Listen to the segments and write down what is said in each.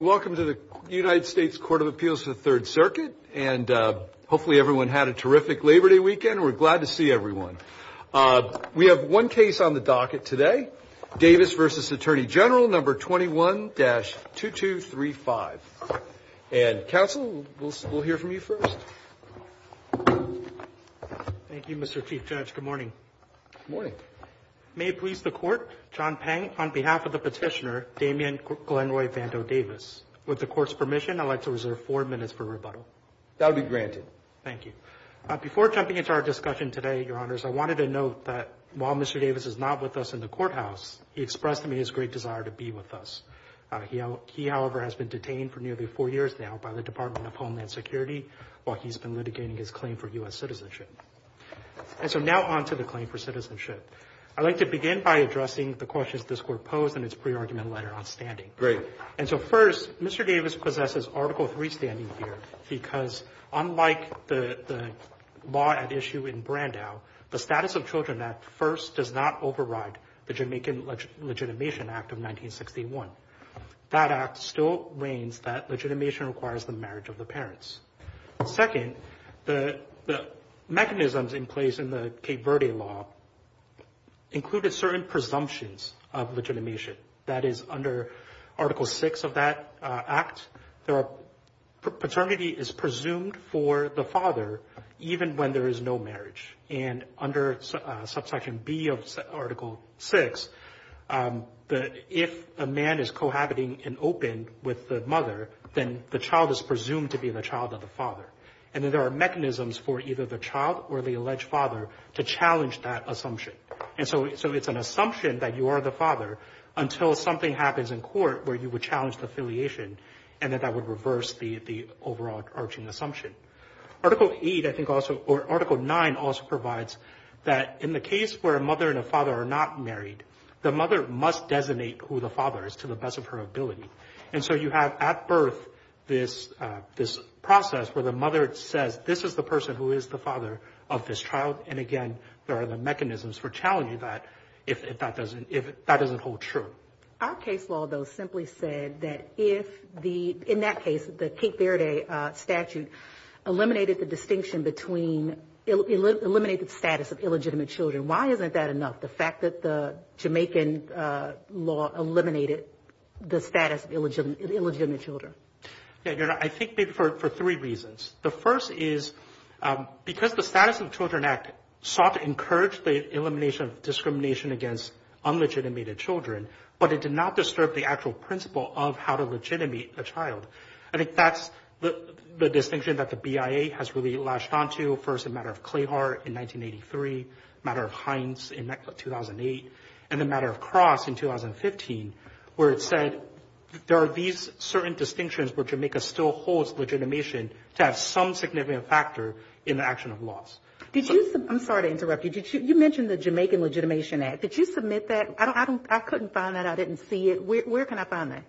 Welcome to the United States Court of Appeals for the Third Circuit. And hopefully everyone had a terrific Labor Day weekend. We're glad to see everyone. We have one case on the docket today. Davis versus Attorney General number 21-2235. And counsel, we'll hear from you first. Thank you, Mr. Chief Judge. Good morning. Good morning. May it please the court. John Pang on behalf of the petitioner, Damien Glenroy Vando Davis with the court's permission. I'd like to reserve four minutes for rebuttal. That would be granted. Thank you. Before jumping into our discussion today, your honors. I wanted to note that while Mr Davis is not with us in the courthouse, he expressed to me his great desire to be with us. He, however, has been detained for nearly four years now by the Department of Homeland Security. While he's been litigating his claim for U.S. citizenship. And so now on to the claim for citizenship. I'd like to begin by addressing the questions this court posed in its pre-argument letter on standing. Great. And so first, Mr. Davis possesses Article 3 standing here because unlike the law at issue in Brandau, the Status of Children Act first does not override the Jamaican Legitimation Act of 1961. That act still reigns that legitimation requires the marriage of the parents. Second, the mechanisms in place in the Cape Verde law included certain presumptions of legitimation. That is, under Article 6 of that act, paternity is presumed for the father, even when there is no marriage. And under Subsection B of Article 6, if a man is cohabiting and open with the mother, then the child is presumed to be the child of the father. And then there are mechanisms for either the child or the alleged father to challenge that assumption. And so it's an assumption that you are the father until something happens in court where you would challenge the affiliation and that that would reverse the overall arching assumption. Article 8, I think also, or Article 9 also provides that in the case where a mother and a father are not married, the mother must designate who the father is to the best of her ability. And so you have at birth this process where the mother says, this is the person who is the father of this child. And again, there are the mechanisms for challenging that if that doesn't hold true. Our case law, though, simply said that if the, in that case, the Cape Verde statute eliminated the distinction between, eliminated the status of illegitimate children, why isn't that enough? The fact that the Jamaican law eliminated the status of illegitimate children. I think maybe for three reasons. The first is because the Status of Children Act sought to encourage the elimination of discrimination against unlegitimated children, but it did not disturb the actual principle of how to legitimate a child. I think that's the distinction that the BIA has really latched onto. First, the matter of Clayhart in 1983, the matter of Hines in 2008, and the matter of Cross in 2015, where it said there are these certain distinctions where Jamaica still holds legitimation to have some significant factor in the action of laws. I'm sorry to interrupt you. You mentioned the Jamaican Legitimation Act. Did you submit that? I couldn't find that. I didn't see it. Where can I find that?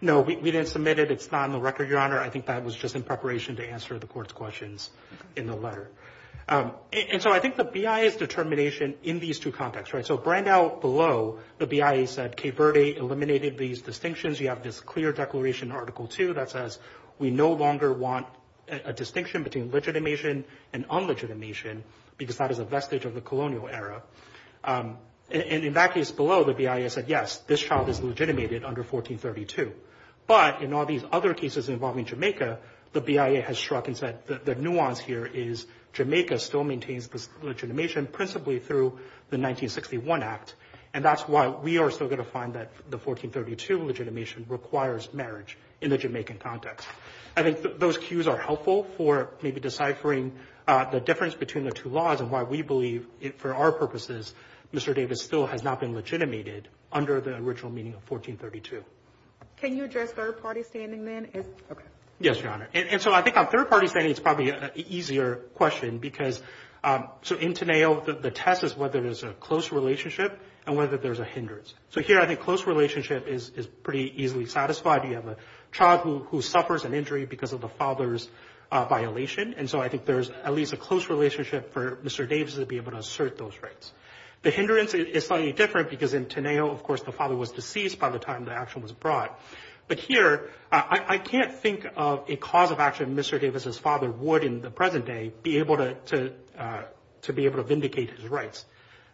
No, we didn't submit it. It's not on the record, Your Honor. I think that was just in preparation to answer the Court's questions in the letter. And so I think the BIA's determination in these two contexts, right? So right now below, the BIA said Kay Verde eliminated these distinctions. You have this clear declaration in Article 2 that says we no longer want a distinction between legitimation and unlegitimation because that is a vestige of the colonial era. And in that case below, the BIA said, yes, this child is legitimated under 1432. But in all these other cases involving Jamaica, the BIA has struck and said the nuance here is Jamaica still maintains this legitimation principally through the 1961 Act, and that's why we are still going to find that the 1432 legitimation requires marriage in the Jamaican context. I think those cues are helpful for maybe deciphering the difference between the two laws and why we believe, for our purposes, Mr. Davis still has not been legitimated under the original meaning of 1432. Can you address third-party standing then? Yes, Your Honor. And so I think on third-party standing, it's probably an easier question because so in Teneo, the test is whether there's a close relationship and whether there's a hindrance. So here I think close relationship is pretty easily satisfied. You have a child who suffers an injury because of the father's violation, and so I think there's at least a close relationship for Mr. Davis to be able to assert those rights. The hindrance is slightly different because in Teneo, of course, the father was deceased by the time the action was brought. But here, I can't think of a cause of action Mr. Davis's father would in the present day be able to vindicate his rights.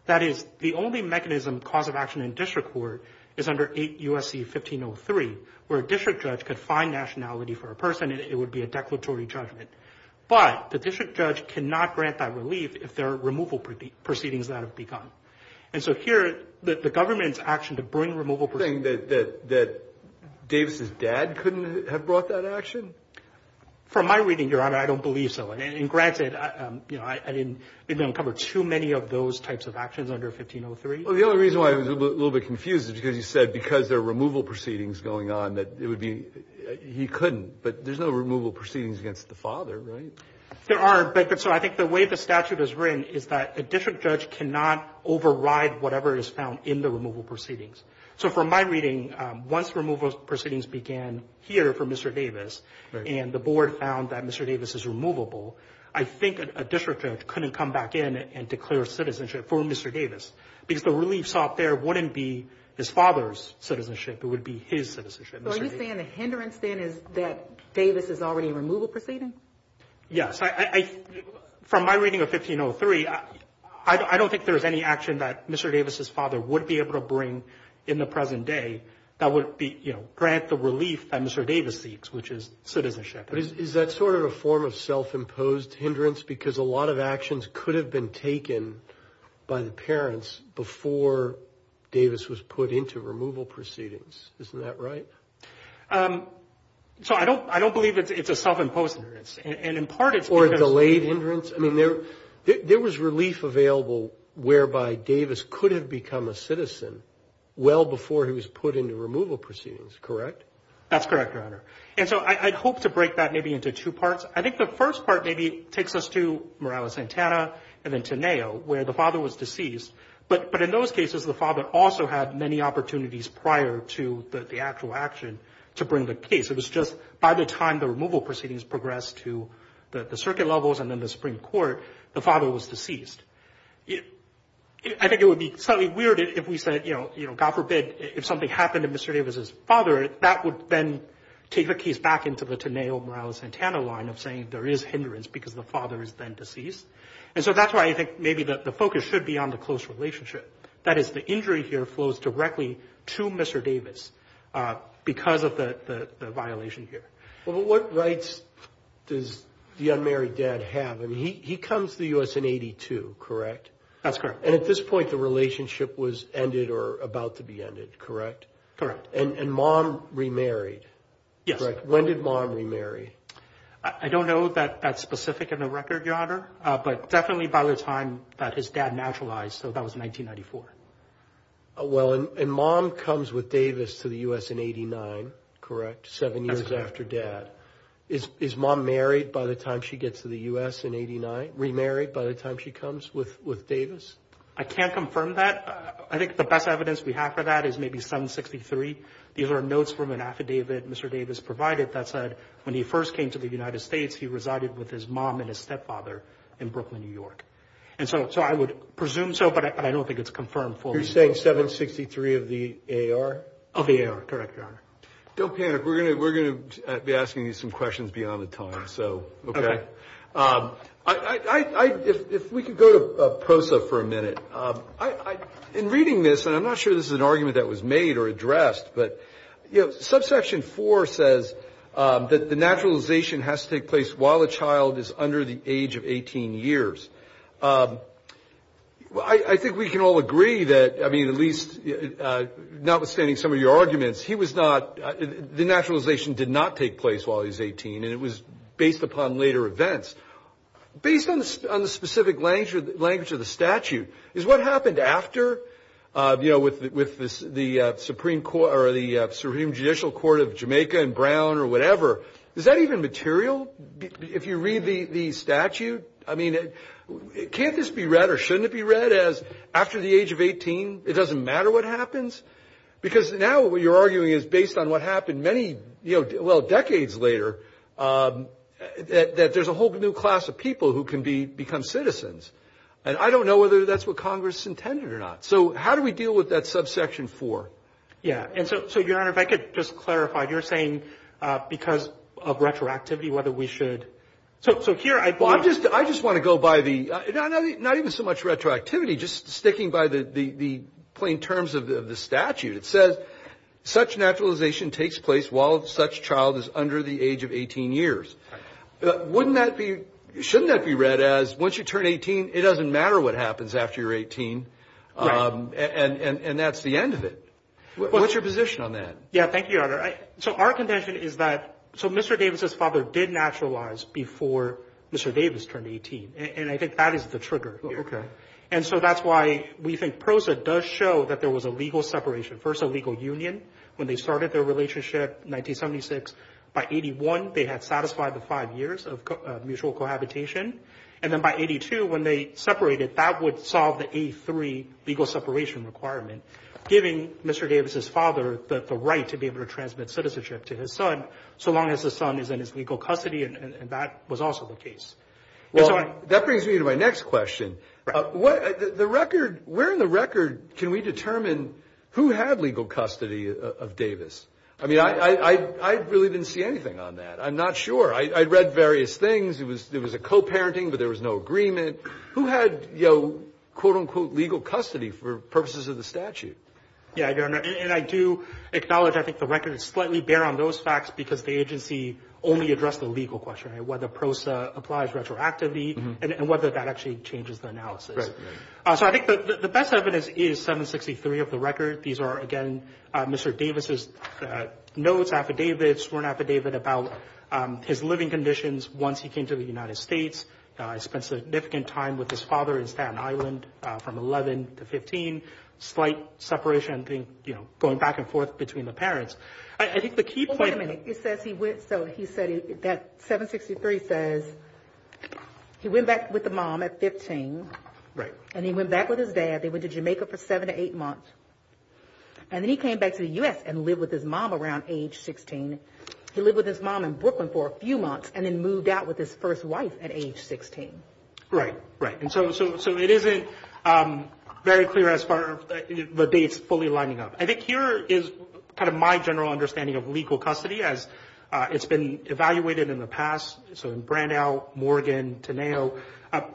That is, the only mechanism, cause of action in district court is under 8 U.S.C. 1503, where a district judge could find nationality for a person and it would be a declaratory judgment. But the district judge cannot grant that relief if there are removal proceedings that have begun. And so here, the government's action to bring removal proceedings... The thing that Davis's dad couldn't have brought that action? From my reading, Your Honor, I don't believe so. And granted, you know, I didn't uncover too many of those types of actions under 1503. Well, the only reason why I was a little bit confused is because you said because there are removal proceedings going on that it would be he couldn't. But there's no removal proceedings against the father, right? There are, but so I think the way the statute is written is that a district judge cannot override whatever is found in the removal proceedings. So from my reading, once removal proceedings began here for Mr. Davis, and the board found that Mr. Davis is removable, I think a district judge couldn't come back in and declare citizenship for Mr. Davis. Because the relief sought there wouldn't be his father's citizenship, it would be his citizenship. So are you saying the hindrance then is that Davis is already a removal proceeding? Yes. From my reading of 1503, I don't think there is any action that Mr. Davis's father would be able to bring in the present day that would grant the relief that Mr. Davis seeks, which is citizenship. But is that sort of a form of self-imposed hindrance? Because a lot of actions could have been taken by the parents before Davis was put into removal proceedings. Isn't that right? So I don't believe it's a self-imposed hindrance. Or a delayed hindrance? I mean, there was relief available whereby Davis could have become a citizen well before he was put into removal proceedings, correct? That's correct, Your Honor. And so I'd hope to break that maybe into two parts. I think the first part maybe takes us to Morales-Santana and then to NEO, where the father was deceased. But in those cases, the father also had many opportunities prior to the actual action to bring the case. It was just by the time the removal proceedings progressed to the circuit levels and then the Supreme Court, the father was deceased. I think it would be slightly weird if we said, you know, God forbid, if something happened to Mr. Davis's father, that would then take the case back into the Teneo-Morales-Santana line of saying there is hindrance because the father is then deceased. And so that's why I think maybe the focus should be on the close relationship. That is, the injury here flows directly to Mr. Davis because of the violation here. Well, what rights does the unmarried dad have? I mean, he comes to the U.S. in 1982, correct? That's correct. And at this point, the relationship was ended or about to be ended, correct? Correct. And mom remarried. Yes. When did mom remarry? I don't know that that's specific in the record, Your Honor, but definitely by the time that his dad naturalized. So that was 1994. Well, and mom comes with Davis to the U.S. in 89, correct, seven years after dad. That's correct. Is mom married by the time she gets to the U.S. in 89, remarried by the time she comes with Davis? I can't confirm that. I think the best evidence we have for that is maybe 763. These are notes from an affidavit Mr. Davis provided that said when he first came to the United States, he resided with his mom and his stepfather in Brooklyn, New York. And so I would presume so, but I don't think it's confirmed for me. You're saying 763 of the A.R.? Of the A.R., correct, Your Honor. Don't panic. We're going to be asking you some questions beyond the time. Okay. If we could go to PROSA for a minute. In reading this, and I'm not sure this is an argument that was made or addressed, but, you know, subsection 4 says that the naturalization has to take place while a child is under the age of 18 years. I think we can all agree that, I mean, at least notwithstanding some of your arguments, he was not the naturalization did not take place while he was 18, and it was based upon later events. Based on the specific language of the statute, is what happened after, you know, with the Supreme Judicial Court of Jamaica and Brown or whatever, is that even material? If you read the statute, I mean, can't this be read or shouldn't it be read as after the age of 18, it doesn't matter what happens? Because now what you're arguing is based on what happened many, well, decades later, that there's a whole new class of people who can become citizens. And I don't know whether that's what Congress intended or not. So how do we deal with that subsection 4? Yeah. And so, Your Honor, if I could just clarify, you're saying because of retroactivity, whether we should. So here I believe. Well, I just want to go by the, not even so much retroactivity, just sticking by the plain terms of the statute. It says such naturalization takes place while such child is under the age of 18 years. Wouldn't that be, shouldn't that be read as once you turn 18, it doesn't matter what happens after you're 18. Right. And that's the end of it. What's your position on that? Yeah. Thank you, Your Honor. So our contention is that, so Mr. Davis' father did naturalize before Mr. Davis turned 18. And I think that is the trigger here. Okay. And so that's why we think PROSA does show that there was a legal separation. First, a legal union when they started their relationship in 1976. By 81, they had satisfied the five years of mutual cohabitation. And then by 82, when they separated, that would solve the A3 legal separation requirement, giving Mr. Davis' father the right to be able to transmit citizenship to his son so long as the son is in his legal custody. And that was also the case. Well, that brings me to my next question. The record, where in the record can we determine who had legal custody of Davis? I mean, I really didn't see anything on that. I'm not sure. I read various things. It was a co-parenting, but there was no agreement. Who had, you know, quote, unquote, legal custody for purposes of the statute? Yeah, Your Honor. And I do acknowledge I think the record is slightly bare on those facts because the agency only addressed the legal question, whether PROSA applies retroactively and whether that actually changes the analysis. So I think the best evidence is 763 of the record. These are, again, Mr. Davis' notes, affidavits, sworn affidavit about his living conditions once he came to the United States. He spent significant time with his father in Staten Island from 11 to 15. Slight separation, you know, going back and forth between the parents. Well, wait a minute. It says he went, so he said that 763 says he went back with the mom at 15. Right. And he went back with his dad. They went to Jamaica for seven to eight months. And then he came back to the U.S. and lived with his mom around age 16. He lived with his mom in Brooklyn for a few months and then moved out with his first wife at age 16. Right, right. And so it isn't very clear as far as the dates fully lining up. I think here is kind of my general understanding of legal custody as it's been evaluated in the past. So in Brandau, Morgan, Teneo,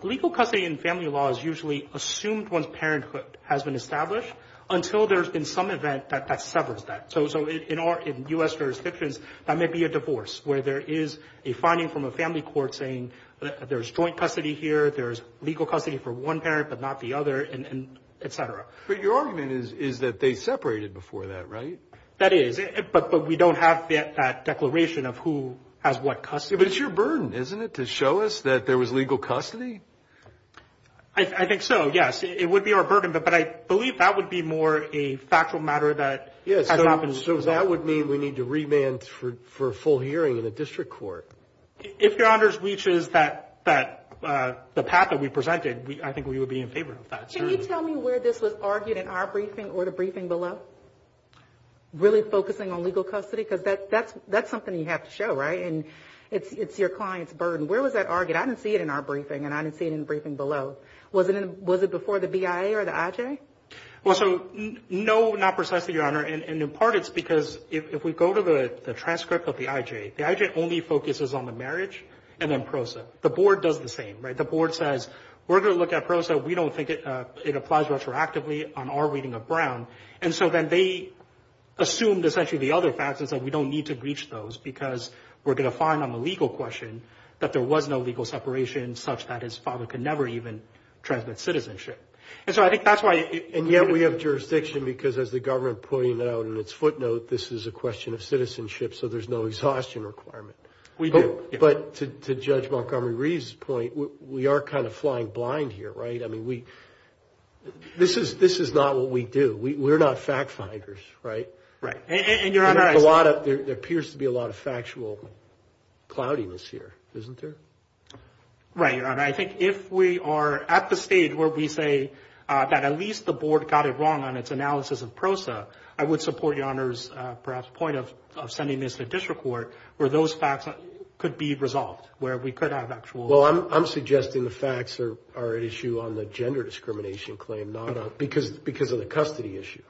legal custody in family law is usually assumed once parenthood has been established until there's been some event that severs that. So in U.S. jurisdictions, that may be a divorce where there is a finding from a family court saying there's joint custody here, there's legal custody for one parent but not the other, et cetera. But your argument is that they separated before that, right? That is. But we don't have that declaration of who has what custody. But it's your burden, isn't it, to show us that there was legal custody? I think so, yes. It would be our burden. But I believe that would be more a factual matter that hasn't happened. So that would mean we need to remand for full hearing in a district court. If your honors reaches the path that we presented, I think we would be in favor of that. Can you tell me where this was argued in our briefing or the briefing below, really focusing on legal custody? Because that's something you have to show, right? And it's your client's burden. Where was that argued? I didn't see it in our briefing and I didn't see it in the briefing below. Was it before the BIA or the IJ? Well, so no, not precisely, Your Honor. And in part it's because if we go to the transcript of the IJ, the IJ only focuses on the marriage and then PROSA. The board does the same, right? The board says we're going to look at PROSA. We don't think it applies retroactively on our reading of Brown. And so then they assumed essentially the other facts and said we don't need to breach those because we're going to find on the legal question that there was no legal separation such that his father could never even transmit citizenship. And so I think that's why. And yet we have jurisdiction because, as the government pointed out in its footnote, this is a question of citizenship, so there's no exhaustion requirement. We do. But to Judge Montgomery-Reeves' point, we are kind of flying blind here, right? I mean, this is not what we do. We're not fact-finders, right? Right. And, Your Honor— There appears to be a lot of factual cloudiness here, isn't there? Right, Your Honor. I think if we are at the stage where we say that at least the board got it wrong on its analysis of PROSA, I would support Your Honor's perhaps point of sending this to district court where those facts could be resolved, where we could have actual— Well, I'm suggesting the facts are at issue on the gender discrimination claim, not on—because of the custody issue.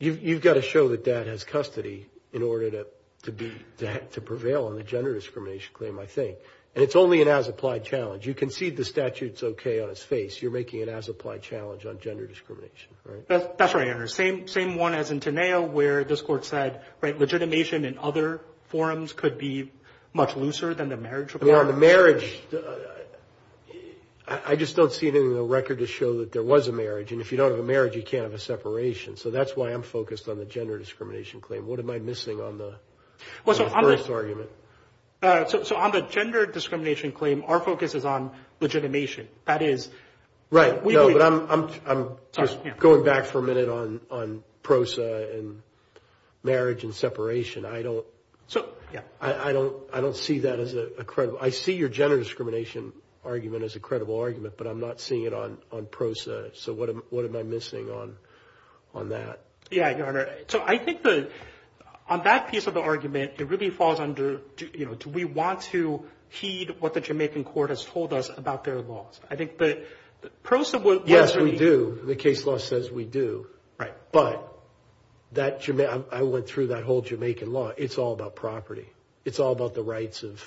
You've got to show that dad has custody in order to be—to prevail on the gender discrimination claim, I think. And it's only an as-applied challenge. You concede the statute's okay on his face. You're making an as-applied challenge on gender discrimination, right? That's right, Your Honor. Same one as in Teneo where this court said, right, legitimation in other forms could be much looser than the marriage requirement. I mean, on the marriage, I just don't see it in the record to show that there was a marriage. And if you don't have a marriage, you can't have a separation. So that's why I'm focused on the gender discrimination claim. What am I missing on the first argument? So on the gender discrimination claim, our focus is on legitimation. That is— Right. No, but I'm going back for a minute on PROSA and marriage and separation. I don't—I don't see that as a credible—I see your gender discrimination argument as a credible argument, but I'm not seeing it on PROSA. So what am I missing on that? Yeah, Your Honor. So I think the—on that piece of the argument, it really falls under, you know, do we want to heed what the Jamaican court has told us about their laws? I think that PROSA was— Yes, we do. The case law says we do. Right. But that—I went through that whole Jamaican law. It's all about property. It's all about the rights of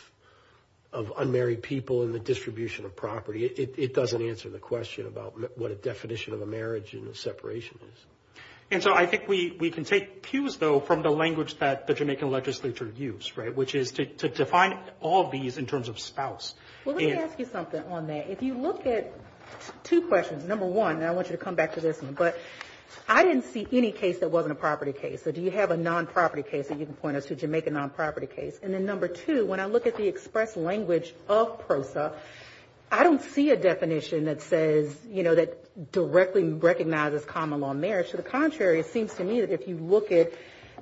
unmarried people and the distribution of property. It doesn't answer the question about what a definition of a marriage and a separation is. And so I think we can take cues, though, from the language that the Jamaican legislature used, right, which is to define all of these in terms of spouse. Well, let me ask you something on that. If you look at two questions, number one—and I want you to come back to this one—but I didn't see any case that wasn't a property case. So do you have a non-property case that you can point us to, a Jamaican non-property case? And then number two, when I look at the express language of PROSA, I don't see a definition that says, you know, that directly recognizes common-law marriage. To the contrary, it seems to me that if you look at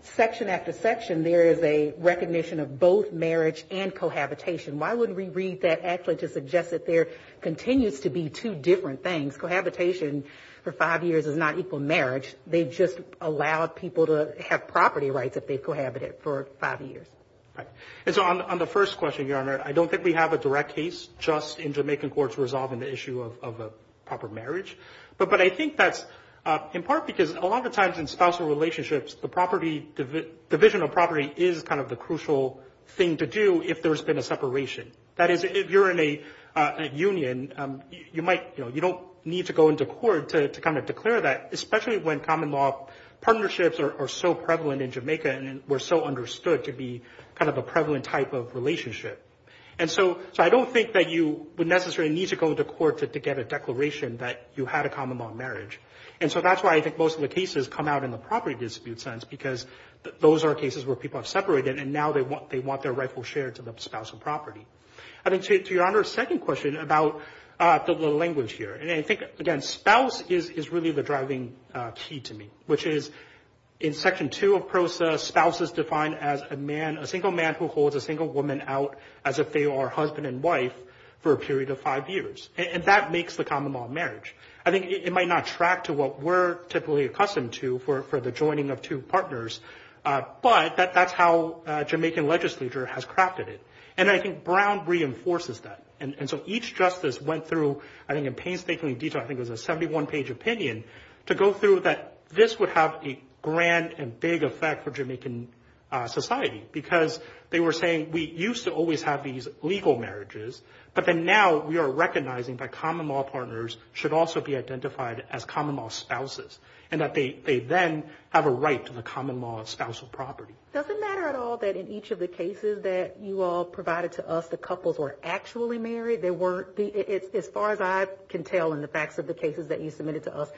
section after section, there is a recognition of both marriage and cohabitation. Why wouldn't we read that actually to suggest that there continues to be two different things? Cohabitation for five years does not equal marriage. They just allow people to have property rights if they've cohabited for five years. Right. And so on the first question, Your Honor, I don't think we have a direct case just in Jamaican courts resolving the issue of a proper marriage. But I think that's in part because a lot of times in spousal relationships, the division of property is kind of the crucial thing to do if there's been a separation. That is, if you're in a union, you don't need to go into court to kind of declare that, especially when common-law partnerships are so prevalent in Jamaica and were so understood to be kind of a prevalent type of relationship. And so I don't think that you would necessarily need to go into court to get a declaration that you had a common-law marriage. And so that's why I think most of the cases come out in the property dispute sense, because those are cases where people have separated and now they want their rightful share to the spousal property. I think, to Your Honor's second question about the language here, and I think, again, spouse is really the driving key to me, which is in Section 2 of PROSA, spouse is defined as a man, a single man who holds a single woman out as if they are husband and wife for a period of five years. And that makes the common-law marriage. I think it might not track to what we're typically accustomed to for the joining of two partners, but that's how Jamaican legislature has crafted it. And I think Brown reinforces that. And so each justice went through, I think in painstaking detail, I think it was a 71-page opinion, to go through that this would have a grand and big effect for Jamaican society, because they were saying we used to always have these legal marriages, but then now we are recognizing that common-law partners should also be identified as common-law spouses and that they then have a right to the common-law spousal property. Does it matter at all that in each of the cases that you all provided to us the couples were actually married? As far as I can tell in the facts of the cases that you submitted to us,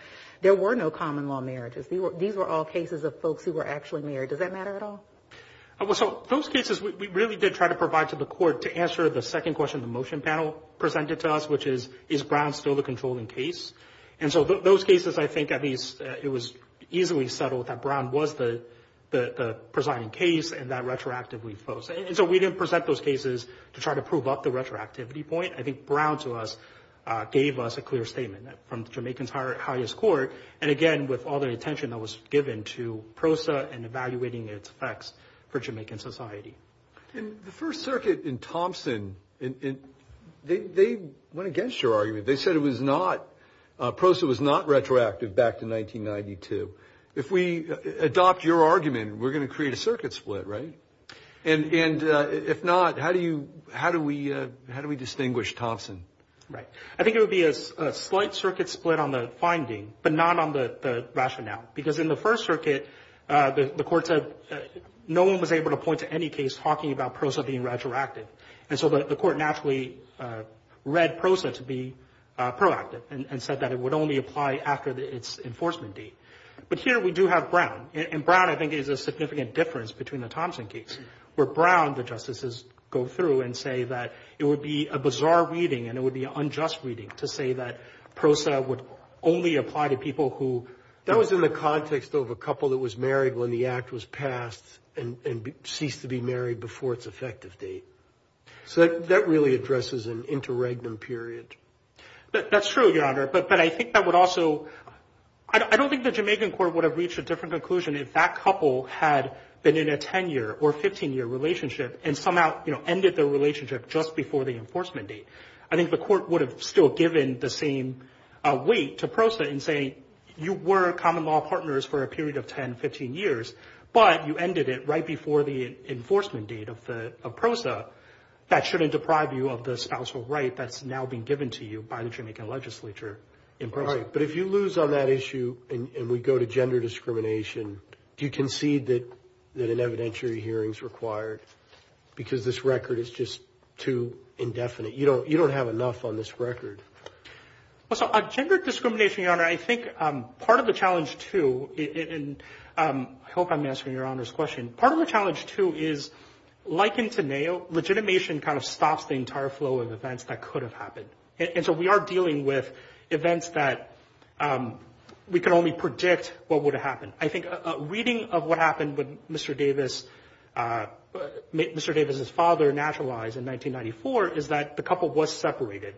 there were no common-law marriages. These were all cases of folks who were actually married. Does that matter at all? So those cases we really did try to provide to the court to answer the second question the motion panel presented to us, which is, is Brown still the controlling case? And so those cases I think at least it was easily settled that Brown was the presiding case and that retroactively folks. And so we didn't present those cases to try to prove up the retroactivity point. I think Brown to us gave us a clear statement from the Jamaican's highest court, and again with all the attention that was given to PROSA and evaluating its effects for Jamaican society. And the First Circuit in Thompson, they went against your argument. They said it was not, PROSA was not retroactive back to 1992. If we adopt your argument, we're going to create a circuit split, right? And if not, how do we distinguish Thompson? Right. I think it would be a slight circuit split on the finding, but not on the rationale. Because in the First Circuit, the court said no one was able to point to any case talking about PROSA being retroactive. And so the court naturally read PROSA to be proactive and said that it would only apply after its enforcement date. But here we do have Brown. And Brown I think is a significant difference between the Thompson case, where Brown the justices go through and say that it would be a bizarre reading and it would be an unjust reading to say that PROSA would only apply to people who, that was in the context of a couple that was married when the act was passed and ceased to be married before its effective date. So that really addresses an interregnum period. That's true, Your Honor, but I think that would also, I don't think the Jamaican court would have reached a different conclusion if that couple had been in a 10-year or 15-year relationship and somehow ended their relationship just before the enforcement date. I think the court would have still given the same weight to PROSA in saying, you were common law partners for a period of 10, 15 years, but you ended it right before the enforcement date of PROSA. That shouldn't deprive you of the spousal right that's now been given to you by the Jamaican legislature in PROSA. But if you lose on that issue and we go to gender discrimination, do you concede that an evidentiary hearing is required because this record is just too indefinite? You don't have enough on this record. Well, so gender discrimination, Your Honor, I think part of the challenge, too, and I hope I'm answering Your Honor's question. Part of the challenge, too, is like in Teneo, legitimation kind of stops the entire flow of events that could have happened. And so we are dealing with events that we can only predict what would have happened. I think a reading of what happened when Mr. Davis' father naturalized in 1994 is that the couple was separated.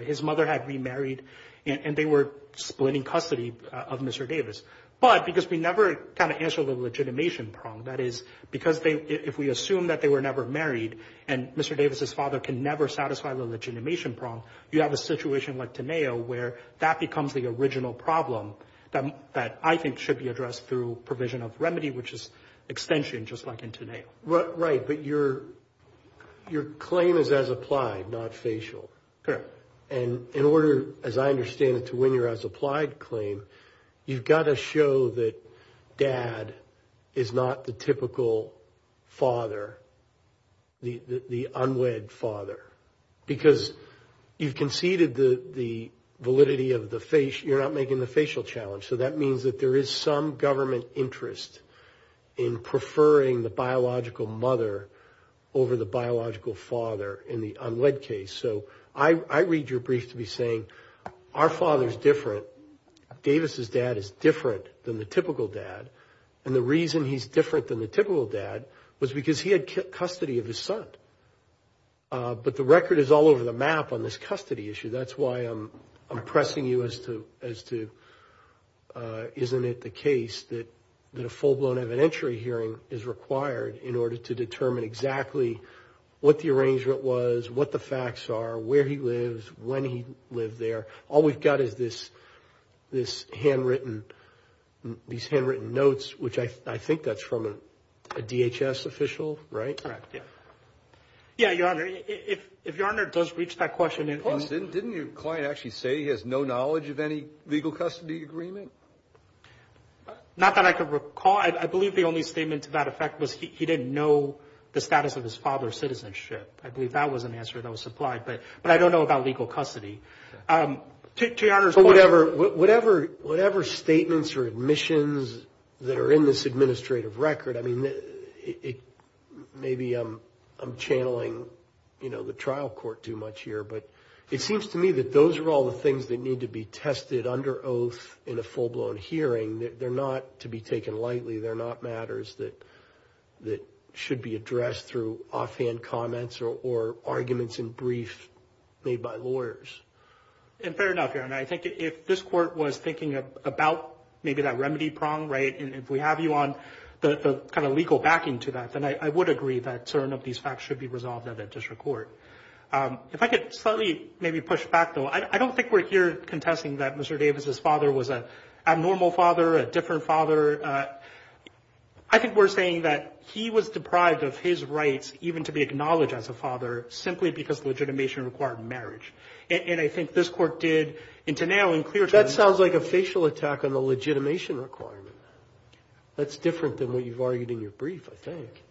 His mother had remarried, and they were split in custody of Mr. Davis. But because we never kind of answered the legitimation problem, that is because if we assume that they were never married and Mr. Davis' father can never satisfy the legitimation problem, you have a situation like Teneo where that becomes the original problem that I think should be addressed through provision of remedy, which is extension just like in Teneo. Right, but your claim is as applied, not facial. Correct. And in order, as I understand it, to win your as applied claim, you've got to show that dad is not the typical father, the unwed father, because you've conceded the validity of the face. You're not making the facial challenge. So that means that there is some government interest in preferring the biological mother over the biological father in the unwed case. So I read your brief to be saying our father is different. Davis' dad is different than the typical dad, and the reason he's different than the typical dad was because he had custody of his son. But the record is all over the map on this custody issue. That's why I'm pressing you as to isn't it the case that a full-blown evidentiary hearing is required in order to determine exactly what the arrangement was, what the facts are, where he lives, when he lived there. All we've got is these handwritten notes, which I think that's from a DHS official, right? Correct, yeah. Yeah, Your Honor, if Your Honor does reach that question. Didn't your client actually say he has no knowledge of any legal custody agreement? Not that I could recall. I believe the only statement to that effect was he didn't know the status of his father's citizenship. I believe that was an answer that was supplied, but I don't know about legal custody. To Your Honor's question. Whatever statements or admissions that are in this administrative record, maybe I'm channeling the trial court too much here, but it seems to me that those are all the things that need to be tested under oath in a full-blown hearing. They're not to be taken lightly. They're not matters that should be addressed through offhand comments or arguments in brief made by lawyers. And fair enough, Your Honor. I think if this court was thinking about maybe that remedy prong, right? If we have you on the kind of legal backing to that, then I would agree that certain of these facts should be resolved at a district court. If I could slightly maybe push back, though, I don't think we're here contesting that Mr. Davis's father was an abnormal father, a different father. I think we're saying that he was deprived of his rights even to be acknowledged as a father simply because legitimation required marriage. And I think this court did, and to now in clear terms. This sounds like a facial attack on the legitimation requirement. That's different than what you've argued in your brief, I think.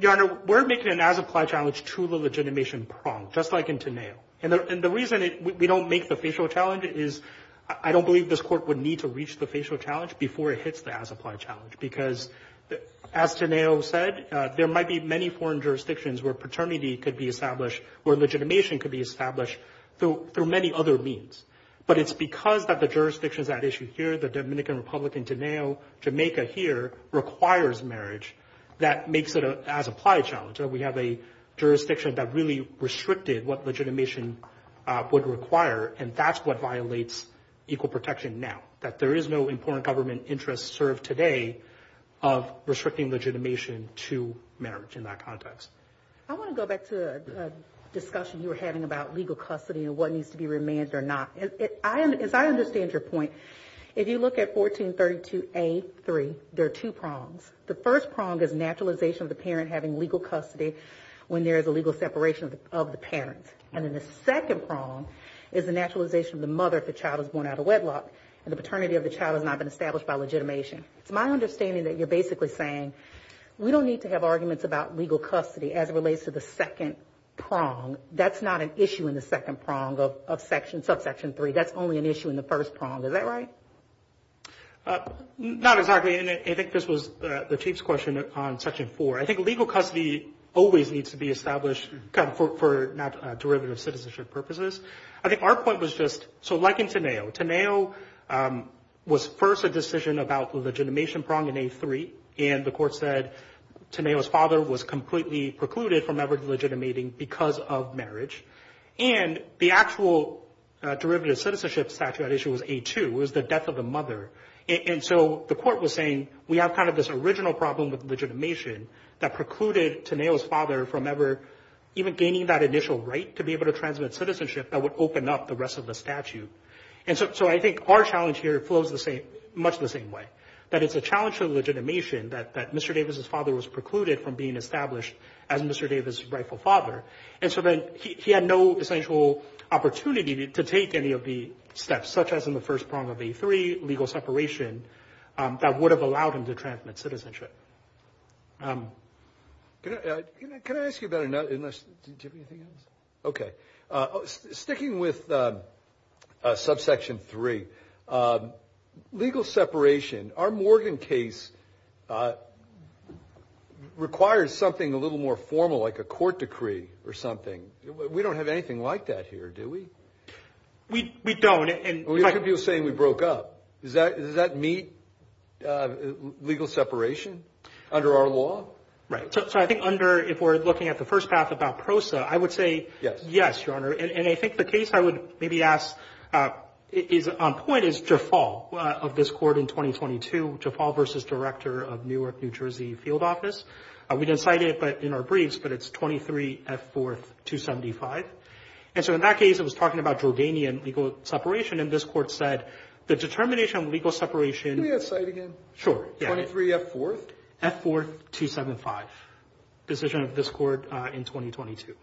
Your Honor, we're making an as-applied challenge to the legitimation prong, just like in Teneo. And the reason we don't make the facial challenge is I don't believe this court would need to reach the facial challenge before it hits the as-applied challenge because, as Teneo said, there might be many foreign jurisdictions where paternity could be established, where legitimation could be established through many other means. But it's because the jurisdictions at issue here, the Dominican Republic in Teneo, Jamaica here, requires marriage that makes it an as-applied challenge. We have a jurisdiction that really restricted what legitimation would require, and that's what violates equal protection now, that there is no important government interest served today of restricting legitimation to marriage in that context. I want to go back to a discussion you were having about legal custody and what needs to be remanded or not. As I understand your point, if you look at 1432A.3, there are two prongs. The first prong is naturalization of the parent having legal custody when there is a legal separation of the parent. And then the second prong is the naturalization of the mother if the child is born out of wedlock and the paternity of the child has not been established by legitimation. It's my understanding that you're basically saying, we don't need to have arguments about legal custody as it relates to the second prong. That's not an issue in the second prong of Section 3. That's only an issue in the first prong. Is that right? Not exactly. And I think this was the Chief's question on Section 4. I think legal custody always needs to be established for derivative citizenship purposes. I think our point was just, so like in Teneo, Teneo was first a decision about the legitimation prong in A.3, and the court said Teneo's father was completely precluded from ever legitimating because of marriage. And the actual derivative citizenship statute at issue was A.2. It was the death of the mother. And so the court was saying, we have kind of this original problem with legitimation that precluded Teneo's father from ever even gaining that initial right to be able to transmit citizenship that would open up the rest of the statute. And so I think our challenge here flows much the same way, that it's a challenge to the legitimation that Mr. Davis's father was precluded from being established as Mr. Davis's rightful father. And so then he had no essential opportunity to take any of the steps, such as in the first prong of A.3, legal separation, that would have allowed him to transmit citizenship. Can I ask you about another thing? Okay. Sticking with subsection 3, legal separation. Our Morgan case requires something a little more formal, like a court decree or something. We don't have anything like that here, do we? We don't. We have people saying we broke up. Does that meet legal separation under our law? Right. So I think under, if we're looking at the first path about PROSA, I would say yes, Your Honor. And I think the case I would maybe ask is on point is Jafal of this court in 2022, Jafal v. Director of Newark, New Jersey Field Office. We didn't cite it in our briefs, but it's 23F4275. And so in that case, it was talking about Jordanian legal separation, and this court said the determination of legal separation. Can you say it again? Sure. 23F4? Right. F4275, decision of this court in 2022.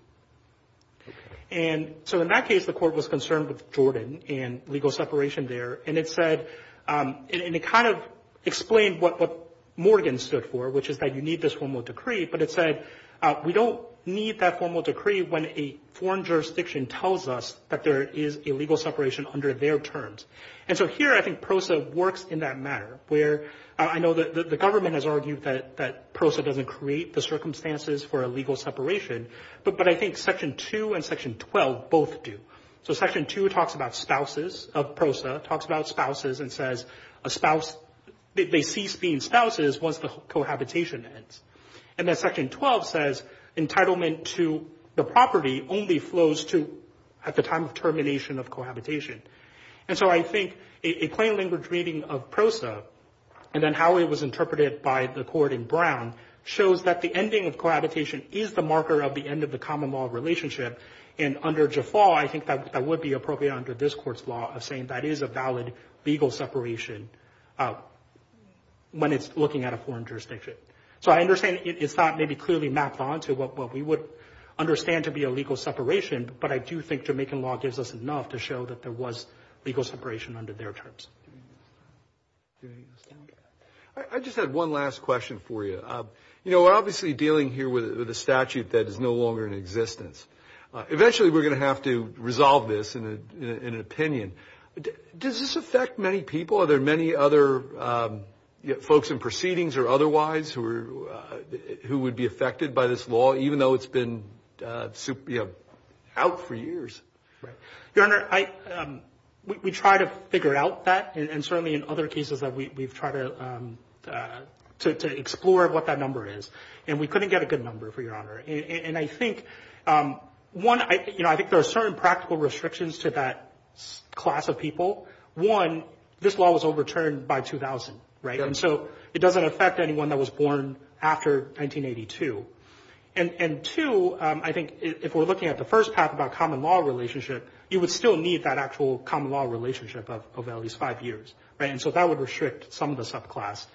And so in that case, the court was concerned with Jordan and legal separation there, and it said, and it kind of explained what Morgan stood for, which is that you need this formal decree, but it said we don't need that formal decree when a foreign jurisdiction tells us that there is a legal separation under their terms. And so here I think PROSA works in that matter where I know the government has argued that PROSA doesn't create the circumstances for a legal separation, but I think Section 2 and Section 12 both do. So Section 2 talks about spouses of PROSA, talks about spouses and says they cease being spouses once the cohabitation ends. And then Section 12 says entitlement to the property only flows to at the time of termination of cohabitation. And so I think a plain language reading of PROSA and then how it was interpreted by the court in Brown shows that the ending of cohabitation is the marker of the end of the common law relationship. And under Jaffa, I think that would be appropriate under this court's law of saying that is a valid legal separation when it's looking at a foreign jurisdiction. So I understand it's not maybe clearly mapped onto what we would understand to be a legal separation, but I do think Jamaican law gives us enough to show that there was legal separation under their terms. I just had one last question for you. You know, we're obviously dealing here with a statute that is no longer in existence. Eventually we're going to have to resolve this in an opinion. Does this affect many people? Are there many other folks in proceedings or otherwise who would be affected by this law, even though it's been out for years? Your Honor, we try to figure out that, and certainly in other cases we've tried to explore what that number is. And we couldn't get a good number, Your Honor. And I think, one, I think there are certain practical restrictions to that class of people. One, this law was overturned by 2000, right? And so it doesn't affect anyone that was born after 1982. And, two, I think if we're looking at the first half about common law relationship, you would still need that actual common law relationship of at least five years, right? And so that would restrict some of the subclass.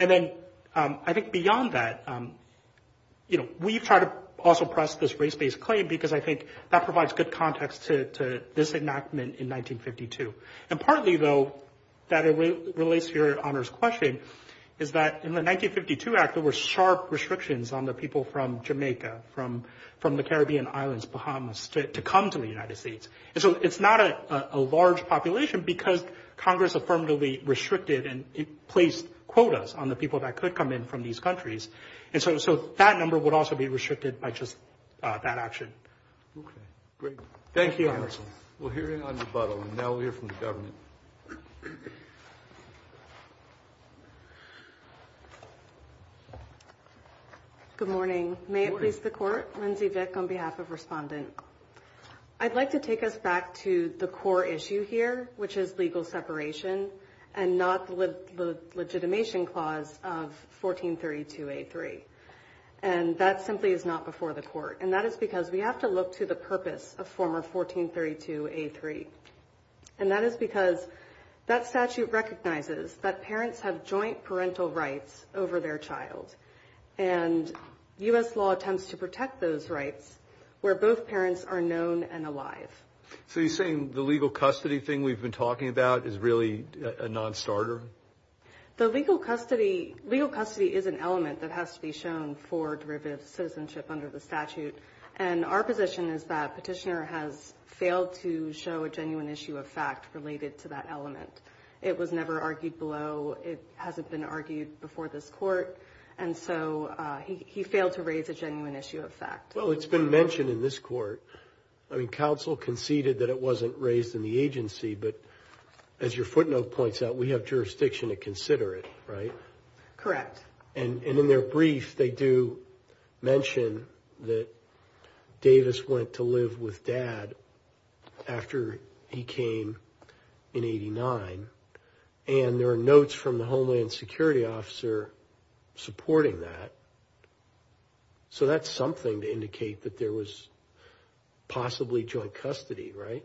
And then I think beyond that, you know, we've tried to also press this race-based claim because I think that provides good context to this enactment in 1952. And partly, though, that relates to Your Honor's question, is that in the 1952 Act there were sharp restrictions on the people from Jamaica, from the Caribbean islands, Bahamas, to come to the United States. And so it's not a large population because Congress affirmatively restricted and placed quotas on the people that could come in from these countries. And so that number would also be restricted by just that action. Okay, great. Thank you, Your Honor. We're hearing on debacle, and now we'll hear from the government. Good morning. May it please the Court? Lindsay Vick on behalf of Respondent. I'd like to take us back to the core issue here, which is legal separation and not the legitimation clause of 1432A3. And that simply is not before the Court. And that is because we have to look to the purpose of former 1432A3. And that is because that statute recognizes that parents have joint parental rights over their child. And U.S. law attempts to protect those rights where both parents are known and alive. So you're saying the legal custody thing we've been talking about is really a nonstarter? The legal custody is an element that has to be shown for derivative citizenship under the statute. And our position is that Petitioner has failed to show a genuine issue of fact related to that element. It was never argued below. It hasn't been argued before this Court. And so he failed to raise a genuine issue of fact. Well, it's been mentioned in this Court. I mean, counsel conceded that it wasn't raised in the agency, but as your footnote points out, we have jurisdiction to consider it, right? Correct. And in their brief, they do mention that Davis went to live with Dad after he came in 89. And there are notes from the Homeland Security officer supporting that. So that's something to indicate that there was possibly joint custody, right?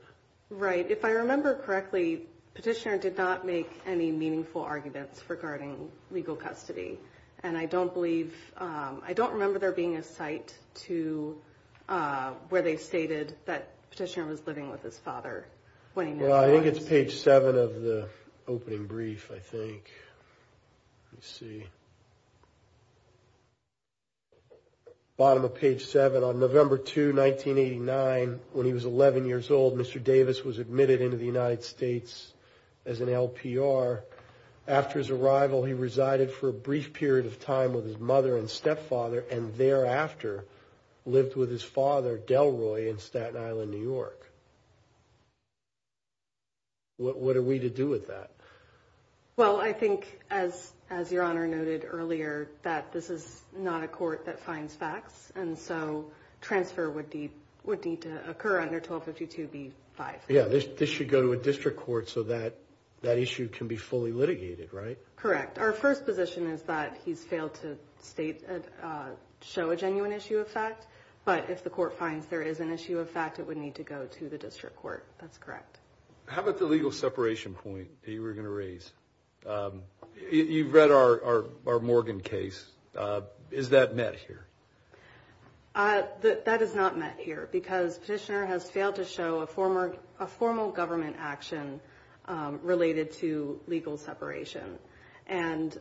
Right. If I remember correctly, Petitioner did not make any meaningful arguments regarding legal custody. And I don't believe, I don't remember there being a cite to where they stated that Petitioner was living with his father. Well, I think it's page 7 of the opening brief, I think. Let me see. Bottom of page 7, on November 2, 1989, when he was 11 years old, Mr. Davis was admitted into the United States as an LPR. After his arrival, he resided for a brief period of time with his mother and stepfather and thereafter lived with his father, Delroy, in Staten Island, New York. What are we to do with that? Well, I think, as Your Honor noted earlier, that this is not a court that finds facts, and so transfer would need to occur under 1252b-5. Yeah, this should go to a district court so that issue can be fully litigated, right? Correct. Our first position is that he's failed to show a genuine issue of fact, but if the court finds there is an issue of fact, it would need to go to the district court. That's correct. How about the legal separation point that you were going to raise? You've read our Morgan case. Is that met here? That is not met here because Petitioner has failed to show a formal government action related to legal separation. And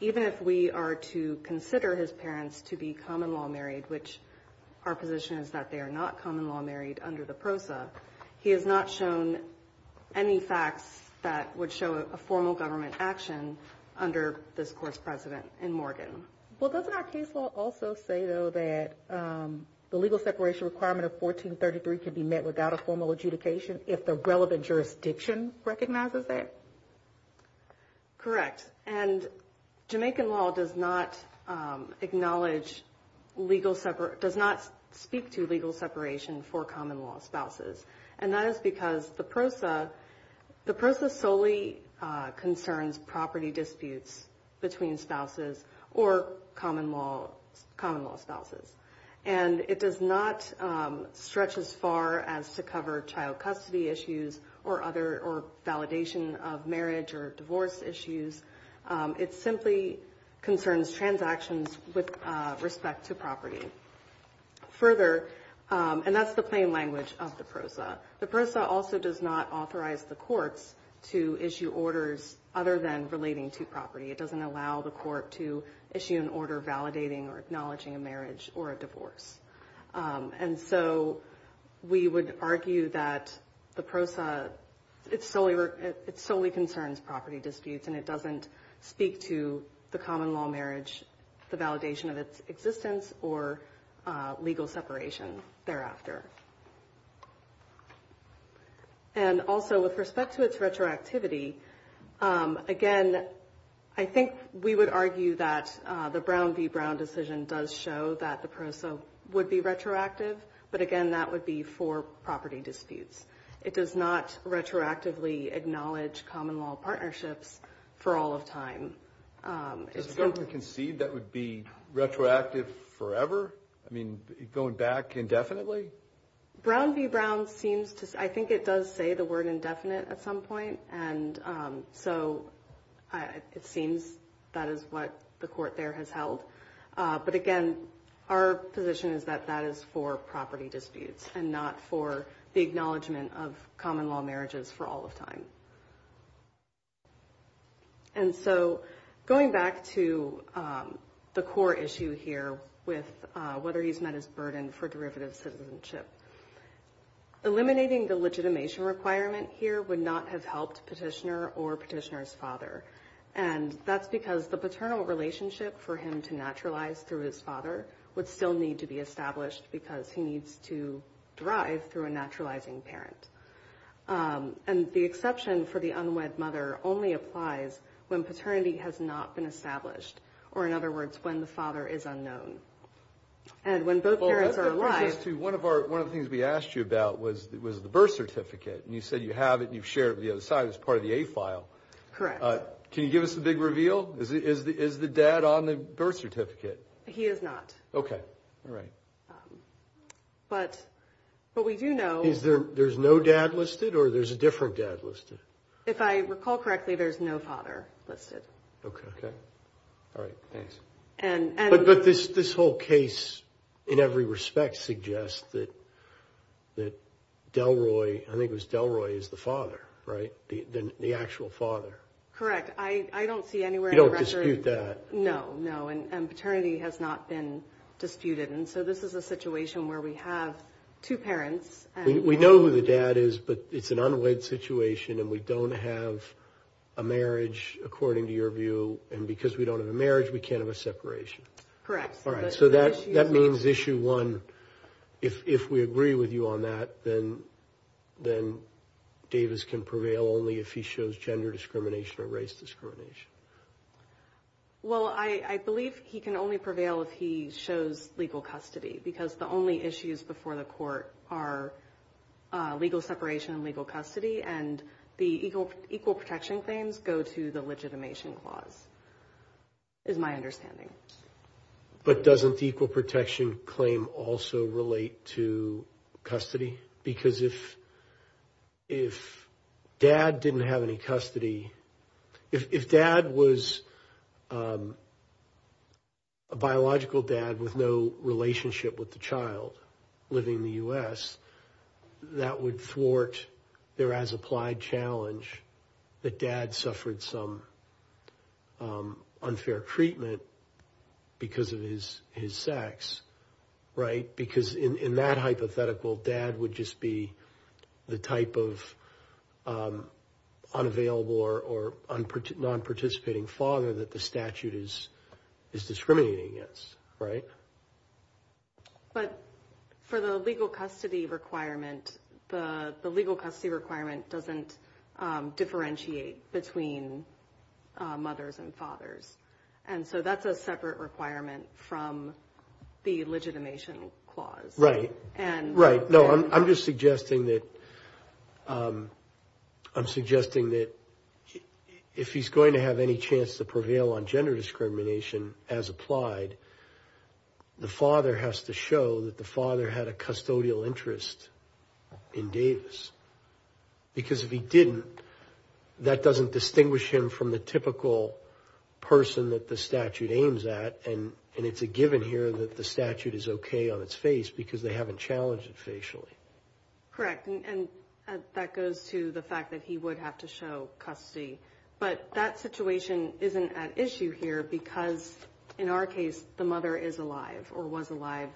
even if we are to consider his parents to be common-law married, which our position is that they are not common-law married under the PROSA, he has not shown any facts that would show a formal government action under this court's precedent in Morgan. Well, doesn't our case law also say, though, that the legal separation requirement of 1433 can be met without a formal adjudication if the relevant jurisdiction recognizes that? Correct. And Jamaican law does not speak to legal separation for common-law spouses, and that is because the PROSA solely concerns property disputes between spouses or common-law spouses. And it does not stretch as far as to cover child custody issues or validation of marriage or divorce issues. It simply concerns transactions with respect to property. Further, and that's the plain language of the PROSA, the PROSA also does not authorize the courts to issue orders other than relating to property. It doesn't allow the court to issue an order validating or acknowledging a marriage or a divorce. And so we would argue that the PROSA, it solely concerns property disputes and it doesn't speak to the common-law marriage, the validation of its existence, or legal separation thereafter. And also, with respect to its retroactivity, again, I think we would argue that the Brown v. Brown decision does show that the PROSA would be retroactive, but, again, that would be for property disputes. It does not retroactively acknowledge common-law partnerships for all of time. Does the government concede that would be retroactive forever? I mean, going back indefinitely? Brown v. Brown seems to – I think it does say the word indefinite at some point, and so it seems that is what the court there has held. But, again, our position is that that is for property disputes and not for the acknowledgement of common-law marriages for all of time. And so going back to the core issue here with whether he's met his burden for derivative citizenship, eliminating the legitimation requirement here would not have helped petitioner or petitioner's father, and that's because the paternal relationship for him to naturalize through his father would still need to be established because he needs to drive through a naturalizing parent. And the exception for the unwed mother only applies when paternity has not been established, or, in other words, when the father is unknown. And when both parents are alive – Well, that brings us to one of the things we asked you about was the birth certificate. And you said you have it and you've shared it with the other side as part of the A file. Correct. Can you give us the big reveal? Is the dad on the birth certificate? He is not. Okay. All right. But we do know – That means there's no dad listed or there's a different dad listed? If I recall correctly, there's no father listed. Okay. All right. Thanks. But this whole case, in every respect, suggests that Delroy – I think it was Delroy is the father, right? The actual father. Correct. I don't see anywhere in the record – You don't dispute that. No, no. And paternity has not been disputed. And so this is a situation where we have two parents. We know who the dad is, but it's an unwed situation and we don't have a marriage, according to your view. And because we don't have a marriage, we can't have a separation. Correct. All right. So that means issue one, if we agree with you on that, then Davis can prevail only if he shows gender discrimination or race discrimination. Well, I believe he can only prevail if he shows legal custody, because the only issues before the court are legal separation and legal custody. And the equal protection claims go to the legitimation clause, is my understanding. But doesn't the equal protection claim also relate to custody? Because if dad didn't have any custody – if dad was a biological dad with no relationship with the child living in the U.S., that would thwart their as-applied challenge that dad suffered some unfair treatment because of his sex, right? That would just be the type of unavailable or non-participating father that the statute is discriminating against, right? But for the legal custody requirement, the legal custody requirement doesn't differentiate between mothers and fathers. And so that's a separate requirement from the legitimation clause. Right. Right. No, I'm just suggesting that if he's going to have any chance to prevail on gender discrimination as applied, the father has to show that the father had a custodial interest in Davis. Because if he didn't, that doesn't distinguish him from the typical person that the statute aims at. And it's a given here that the statute is okay on its face because they haven't challenged it facially. Correct. And that goes to the fact that he would have to show custody. But that situation isn't at issue here because, in our case, the mother is alive or was alive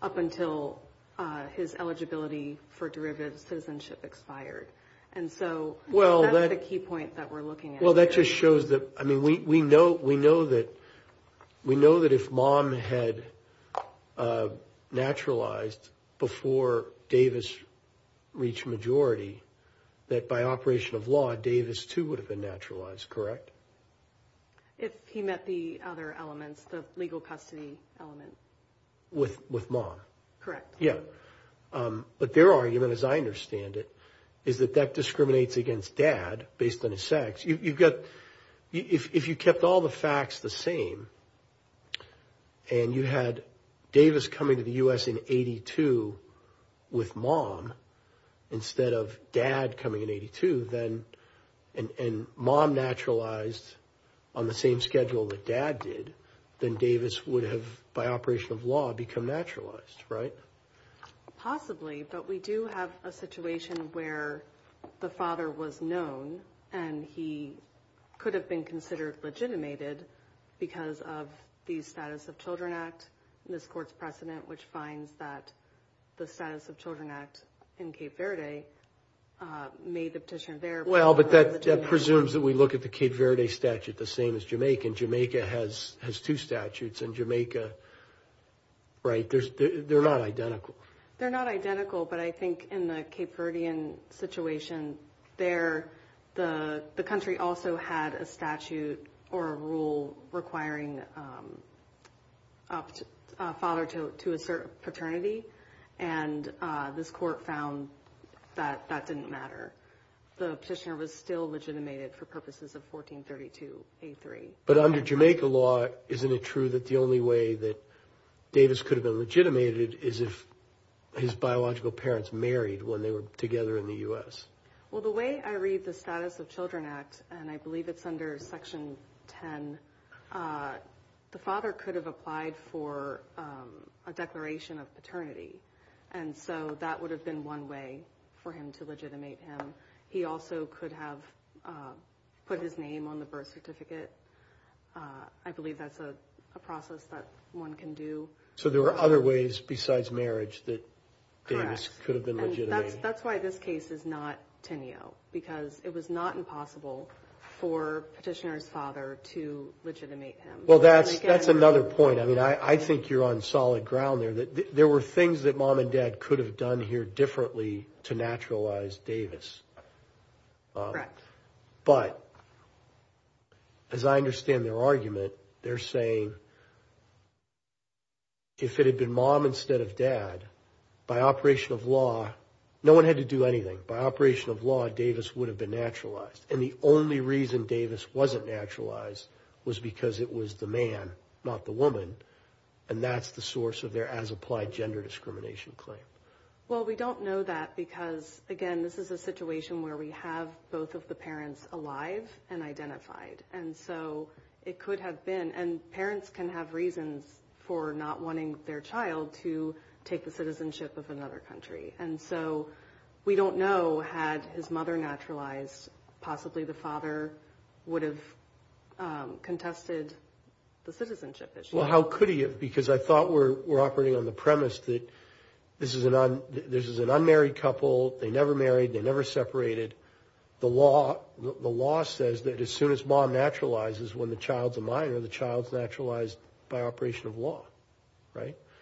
up until his eligibility for derivative citizenship expired. And so that's the key point that we're looking at here. And that just shows that, I mean, we know that if mom had naturalized before Davis reached majority, that by operation of law, Davis, too, would have been naturalized, correct? If he met the other elements, the legal custody element. With mom. Correct. Yeah. But their argument, as I understand it, is that that discriminates against dad based on his sex. You've got – if you kept all the facts the same and you had Davis coming to the U.S. in 82 with mom instead of dad coming in 82, and mom naturalized on the same schedule that dad did, then Davis would have, by operation of law, become naturalized, right? Possibly. But we do have a situation where the father was known and he could have been considered legitimated because of the Status of Children Act, in this court's precedent, which finds that the Status of Children Act in Cape Verde made the petition there. Well, but that presumes that we look at the Cape Verde statute, the same as Jamaica. And Jamaica has two statutes. And Jamaica, right, they're not identical. They're not identical. But I think in the Cape Verdean situation there, the country also had a statute or a rule requiring a father to assert paternity. And this court found that that didn't matter. The petitioner was still legitimated for purposes of 1432A3. But under Jamaica law, isn't it true that the only way that Davis could have been legitimated is if his biological parents married when they were together in the U.S.? Well, the way I read the Status of Children Act, and I believe it's under Section 10, the father could have applied for a declaration of paternity. And so that would have been one way for him to legitimate him. He also could have put his name on the birth certificate. I believe that's a process that one can do. So there are other ways besides marriage that Davis could have been legitimated. That's why this case is not Tenio, because it was not impossible for petitioner's father to legitimate him. Well, that's another point. I mean, I think you're on solid ground there. There were things that mom and dad could have done here differently to naturalize Davis. But as I understand their argument, they're saying if it had been mom instead of dad, by operation of law, no one had to do anything. By operation of law, Davis would have been naturalized. And the only reason Davis wasn't naturalized was because it was the man, not the woman. And that's the source of their as-applied gender discrimination claim. Well, we don't know that because, again, this is a situation where we have both of the parents alive and identified. And so it could have been. And parents can have reasons for not wanting their child to take the citizenship of another country. And so we don't know had his mother naturalized, possibly the father would have contested the citizenship issue. Well, how could he have? Because I thought we're operating on the premise that this is an unmarried couple. They never married. They never separated. The law says that as soon as mom naturalizes when the child's a minor, the child's naturalized by operation of law.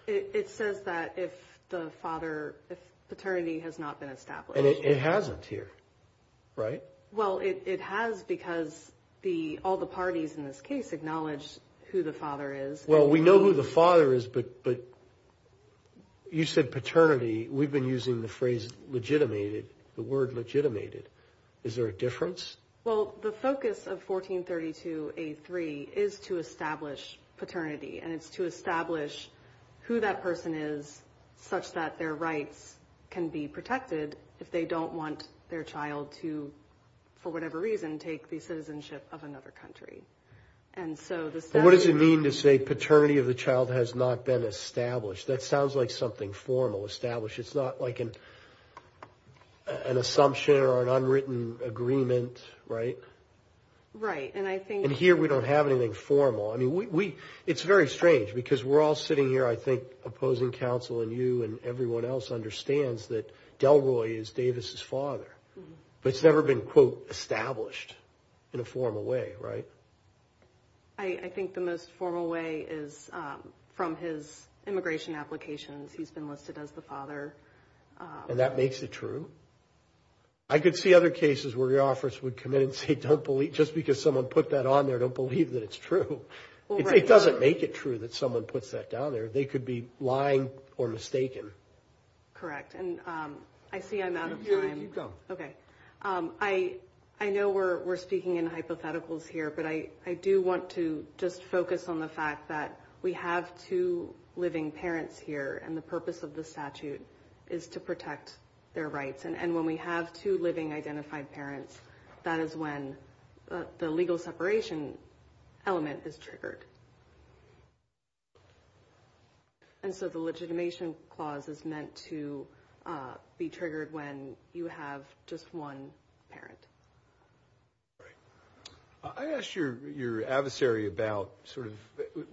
It says that if the father, if paternity has not been established. And it hasn't here, right? Well, it has because all the parties in this case acknowledge who the father is. Well, we know who the father is, but you said paternity. We've been using the phrase legitimated, the word legitimated. Is there a difference? Well, the focus of 1432A3 is to establish paternity. And it's to establish who that person is such that their rights can be protected if they don't want their child to, for whatever reason, take the citizenship of another country. And so this doesn't mean to say paternity of the child has not been established. That sounds like something formal established. It's not like an assumption or an unwritten agreement. Right. Right. And I think here we don't have anything formal. I mean, we it's very strange because we're all sitting here, I think, opposing counsel and you and everyone else understands that Delroy is Davis's father. But it's never been, quote, established in a formal way. Right. I think the most formal way is from his immigration applications. He's been listed as the father. And that makes it true. I could see other cases where your office would come in and say, don't believe just because someone put that on there, don't believe that it's true. It doesn't make it true that someone puts that down there. They could be lying or mistaken. Correct. And I see I'm out of time. OK, I know we're speaking in hypotheticals here, but I do want to just focus on the fact that we have two living parents here. And the purpose of the statute is to protect their rights. And when we have two living identified parents, that is when the legal separation element is triggered. And so the legitimation clause is meant to be triggered when you have just one parent. Right. I asked your your adversary about sort of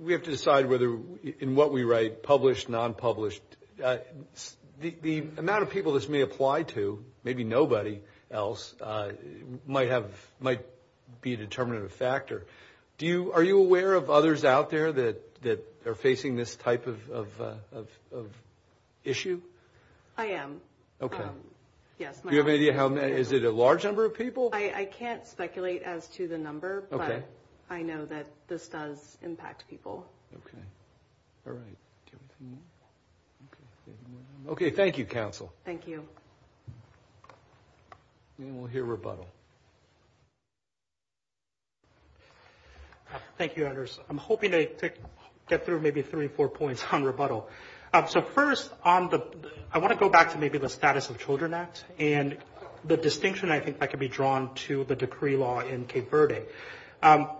we have to decide whether in what we write, published, non-published, the amount of people this may apply to, maybe nobody else might have might be a determinative factor. Do you are you aware of others out there that that are facing this type of issue? I am. OK. Yes. Do you have any idea how many? Is it a large number of people? I can't speculate as to the number, but I know that this does impact people. OK. All right. OK. Thank you, counsel. Thank you. We'll hear rebuttal. Thank you, Anders. I'm hoping to get through maybe three or four points on rebuttal. So first on the I want to go back to maybe the Status of Children Act and the distinction. I think I can be drawn to the decree law in Cape Verde.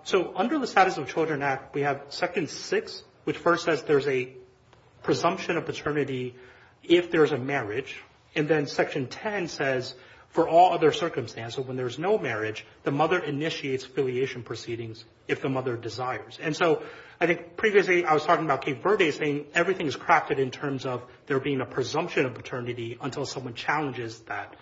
So under the Status of Children Act, we have second six, which first says there's a presumption of paternity if there is a marriage. And then Section 10 says for all other circumstances, when there is no marriage, the mother initiates affiliation proceedings if the mother desires. And so I think previously I was talking about Cape Verde saying everything is crafted in terms of there being a presumption of paternity until someone challenges that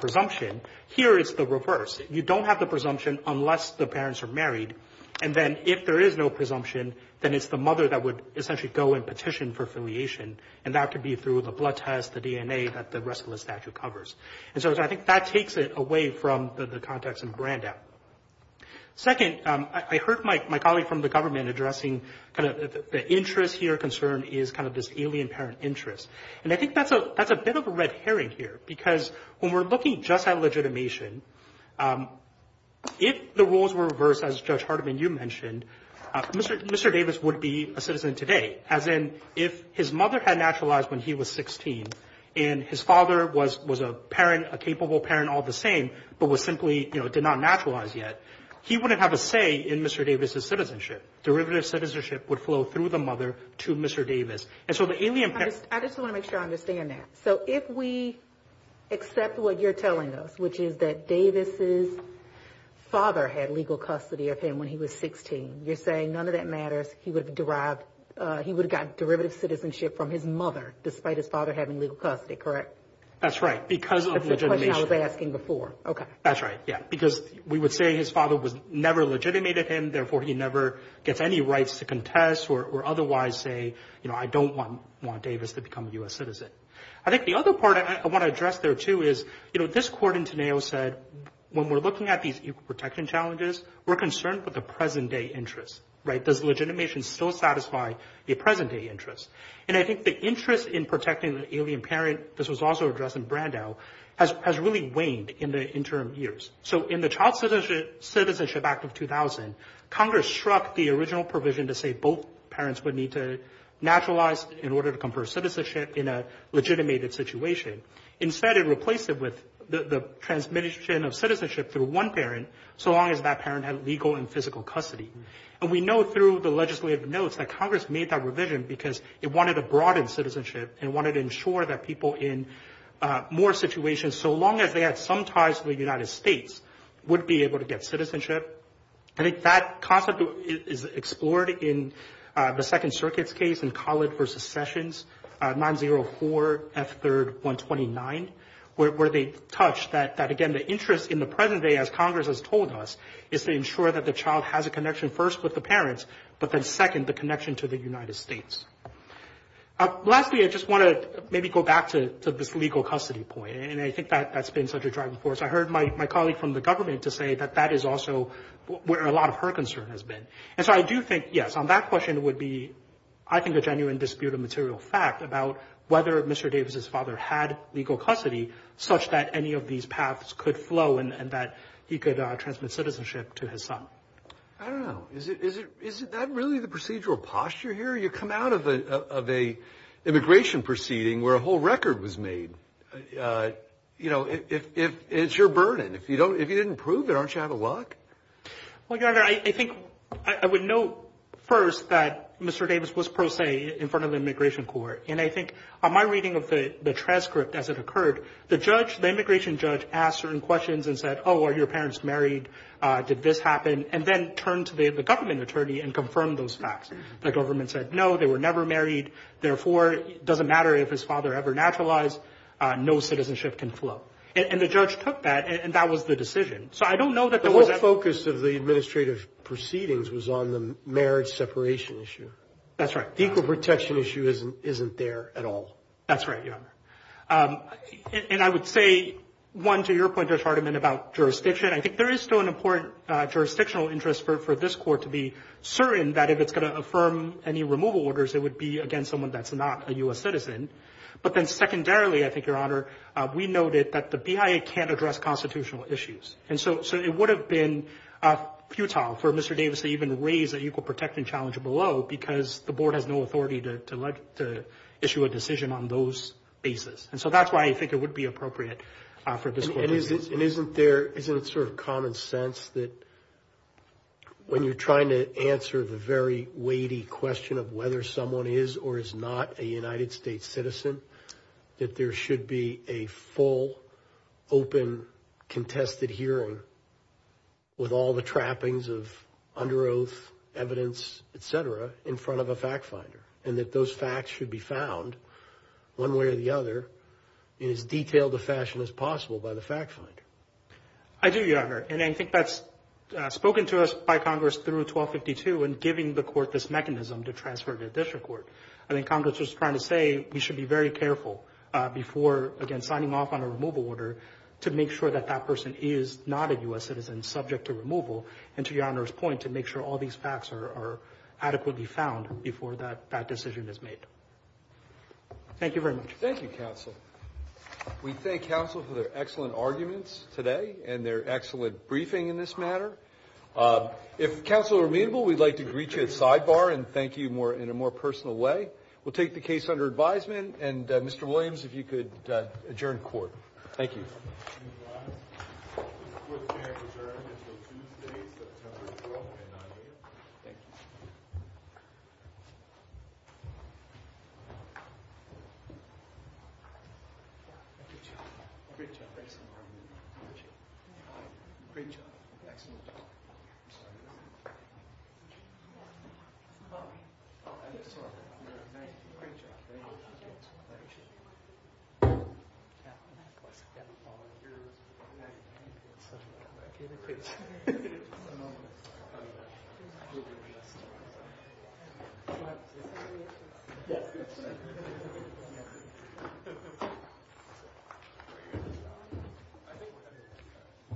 presumption. Here is the reverse. You don't have the presumption unless the parents are married. And then if there is no presumption, then it's the mother that would essentially go and petition for affiliation. And that could be through the blood test, the DNA, that the rest of the statute covers. And so I think that takes it away from the context and brand out. Second, I heard my colleague from the government addressing the interest here concern is kind of this alien parent interest. And I think that's a that's a bit of a red herring here, because when we're looking just at legitimation, if the rules were reversed, as Judge Hardiman, you mentioned, Mr. Mr. Davis would be a citizen today, as in if his mother had naturalized when he was 16 and his father was was a parent, a capable parent all the same, but was simply did not naturalize yet. He wouldn't have a say in Mr. Davis's citizenship. Derivative citizenship would flow through the mother to Mr. Davis. And so the alien. I just want to make sure I understand that. So if we accept what you're telling us, which is that Davis's father had legal custody of him when he was 16. You're saying none of that matters. He would have derived he would have got derivative citizenship from his mother, despite his father having legal custody. Correct. That's right. Because I was asking before. OK, that's right. Yeah, because we would say his father was never legitimated him. Therefore, he never gets any rights to contest or otherwise say, you know, I don't want want Davis to become a U.S. citizen. I think the other part I want to address there, too, is, you know, this court in Teneo said, when we're looking at these protection challenges, we're concerned with the present day interest. Right. Does legitimation still satisfy the present day interest? And I think the interest in protecting the alien parent. This was also addressed in Brando has has really waned in the interim years. So in the Child Citizenship Act of 2000, Congress struck the original provision to say both parents would need to naturalize in order to confer citizenship in a legitimated situation. Instead, it replaced it with the transmission of citizenship through one parent. So long as that parent had legal and physical custody. And we know through the legislative notes that Congress made that revision because it wanted to broaden citizenship and wanted to ensure that people in more situations, so long as they had some ties to the United States, would be able to get citizenship. I think that concept is explored in the Second Circuit's case in Collett versus Sessions. Nine zero four F third one twenty nine, where they touch that. That again, the interest in the present day, as Congress has told us, is to ensure that the child has a connection first with the parents, but then second, the connection to the United States. Lastly, I just want to maybe go back to this legal custody point. And I think that that's been such a driving force. I heard my colleague from the government to say that that is also where a lot of her concern has been. And so I do think, yes, on that question, it would be, I think, a genuine dispute of material fact about whether Mr. Davis's father had legal custody such that any of these paths could flow and that he could transmit citizenship to his son. I don't know. Is it is it? Is that really the procedural posture here? You come out of a immigration proceeding where a whole record was made. You know, if it's your burden, if you don't, if you didn't prove it, aren't you out of luck? I think I would know first that Mr. Davis was pro se in front of the immigration court. And I think my reading of the transcript as it occurred, the judge, the immigration judge, asked certain questions and said, oh, are your parents married? Did this happen? And then turn to the government attorney and confirm those facts. The government said, no, they were never married. Therefore, it doesn't matter if his father ever naturalized. No citizenship can flow. And the judge took that. And that was the decision. So I don't know that the focus of the administrative proceedings was on the marriage separation issue. That's right. Equal protection issue isn't isn't there at all. That's right. And I would say, one, to your point, there's argument about jurisdiction. I think there is still an important jurisdictional interest for this court to be certain that if it's going to affirm any removal orders, it would be against someone that's not a U.S. citizen. But then secondarily, I think, Your Honor, we noted that the BIA can't address constitutional issues. And so it would have been futile for Mr. Davis to even raise that equal protection challenge below, because the board has no authority to issue a decision on those basis. And so that's why I think it would be appropriate for this. And isn't there isn't it sort of common sense that. When you're trying to answer the very weighty question of whether someone is or is not a United States citizen, that there should be a full, open, contested hearing. With all the trappings of under oath evidence, et cetera, in front of a fact finder, and that those facts should be found one way or the other in as detailed a fashion as possible by the fact finder. I do, Your Honor. And I think that's spoken to us by Congress through 1252 and giving the court this mechanism to transfer to district court. I think Congress was trying to say we should be very careful before, again, signing off on a removal order to make sure that that person is not a U.S. citizen subject to removal. And to Your Honor's point, to make sure all these facts are adequately found before that decision is made. Thank you very much. Thank you, counsel. We thank counsel for their excellent arguments today and their excellent briefing in this matter. If counsel are amenable, we'd like to greet you at sidebar and thank you more in a more personal way. We'll take the case under advisement. And Mr. Williams, if you could adjourn court. Thank you. Thank you.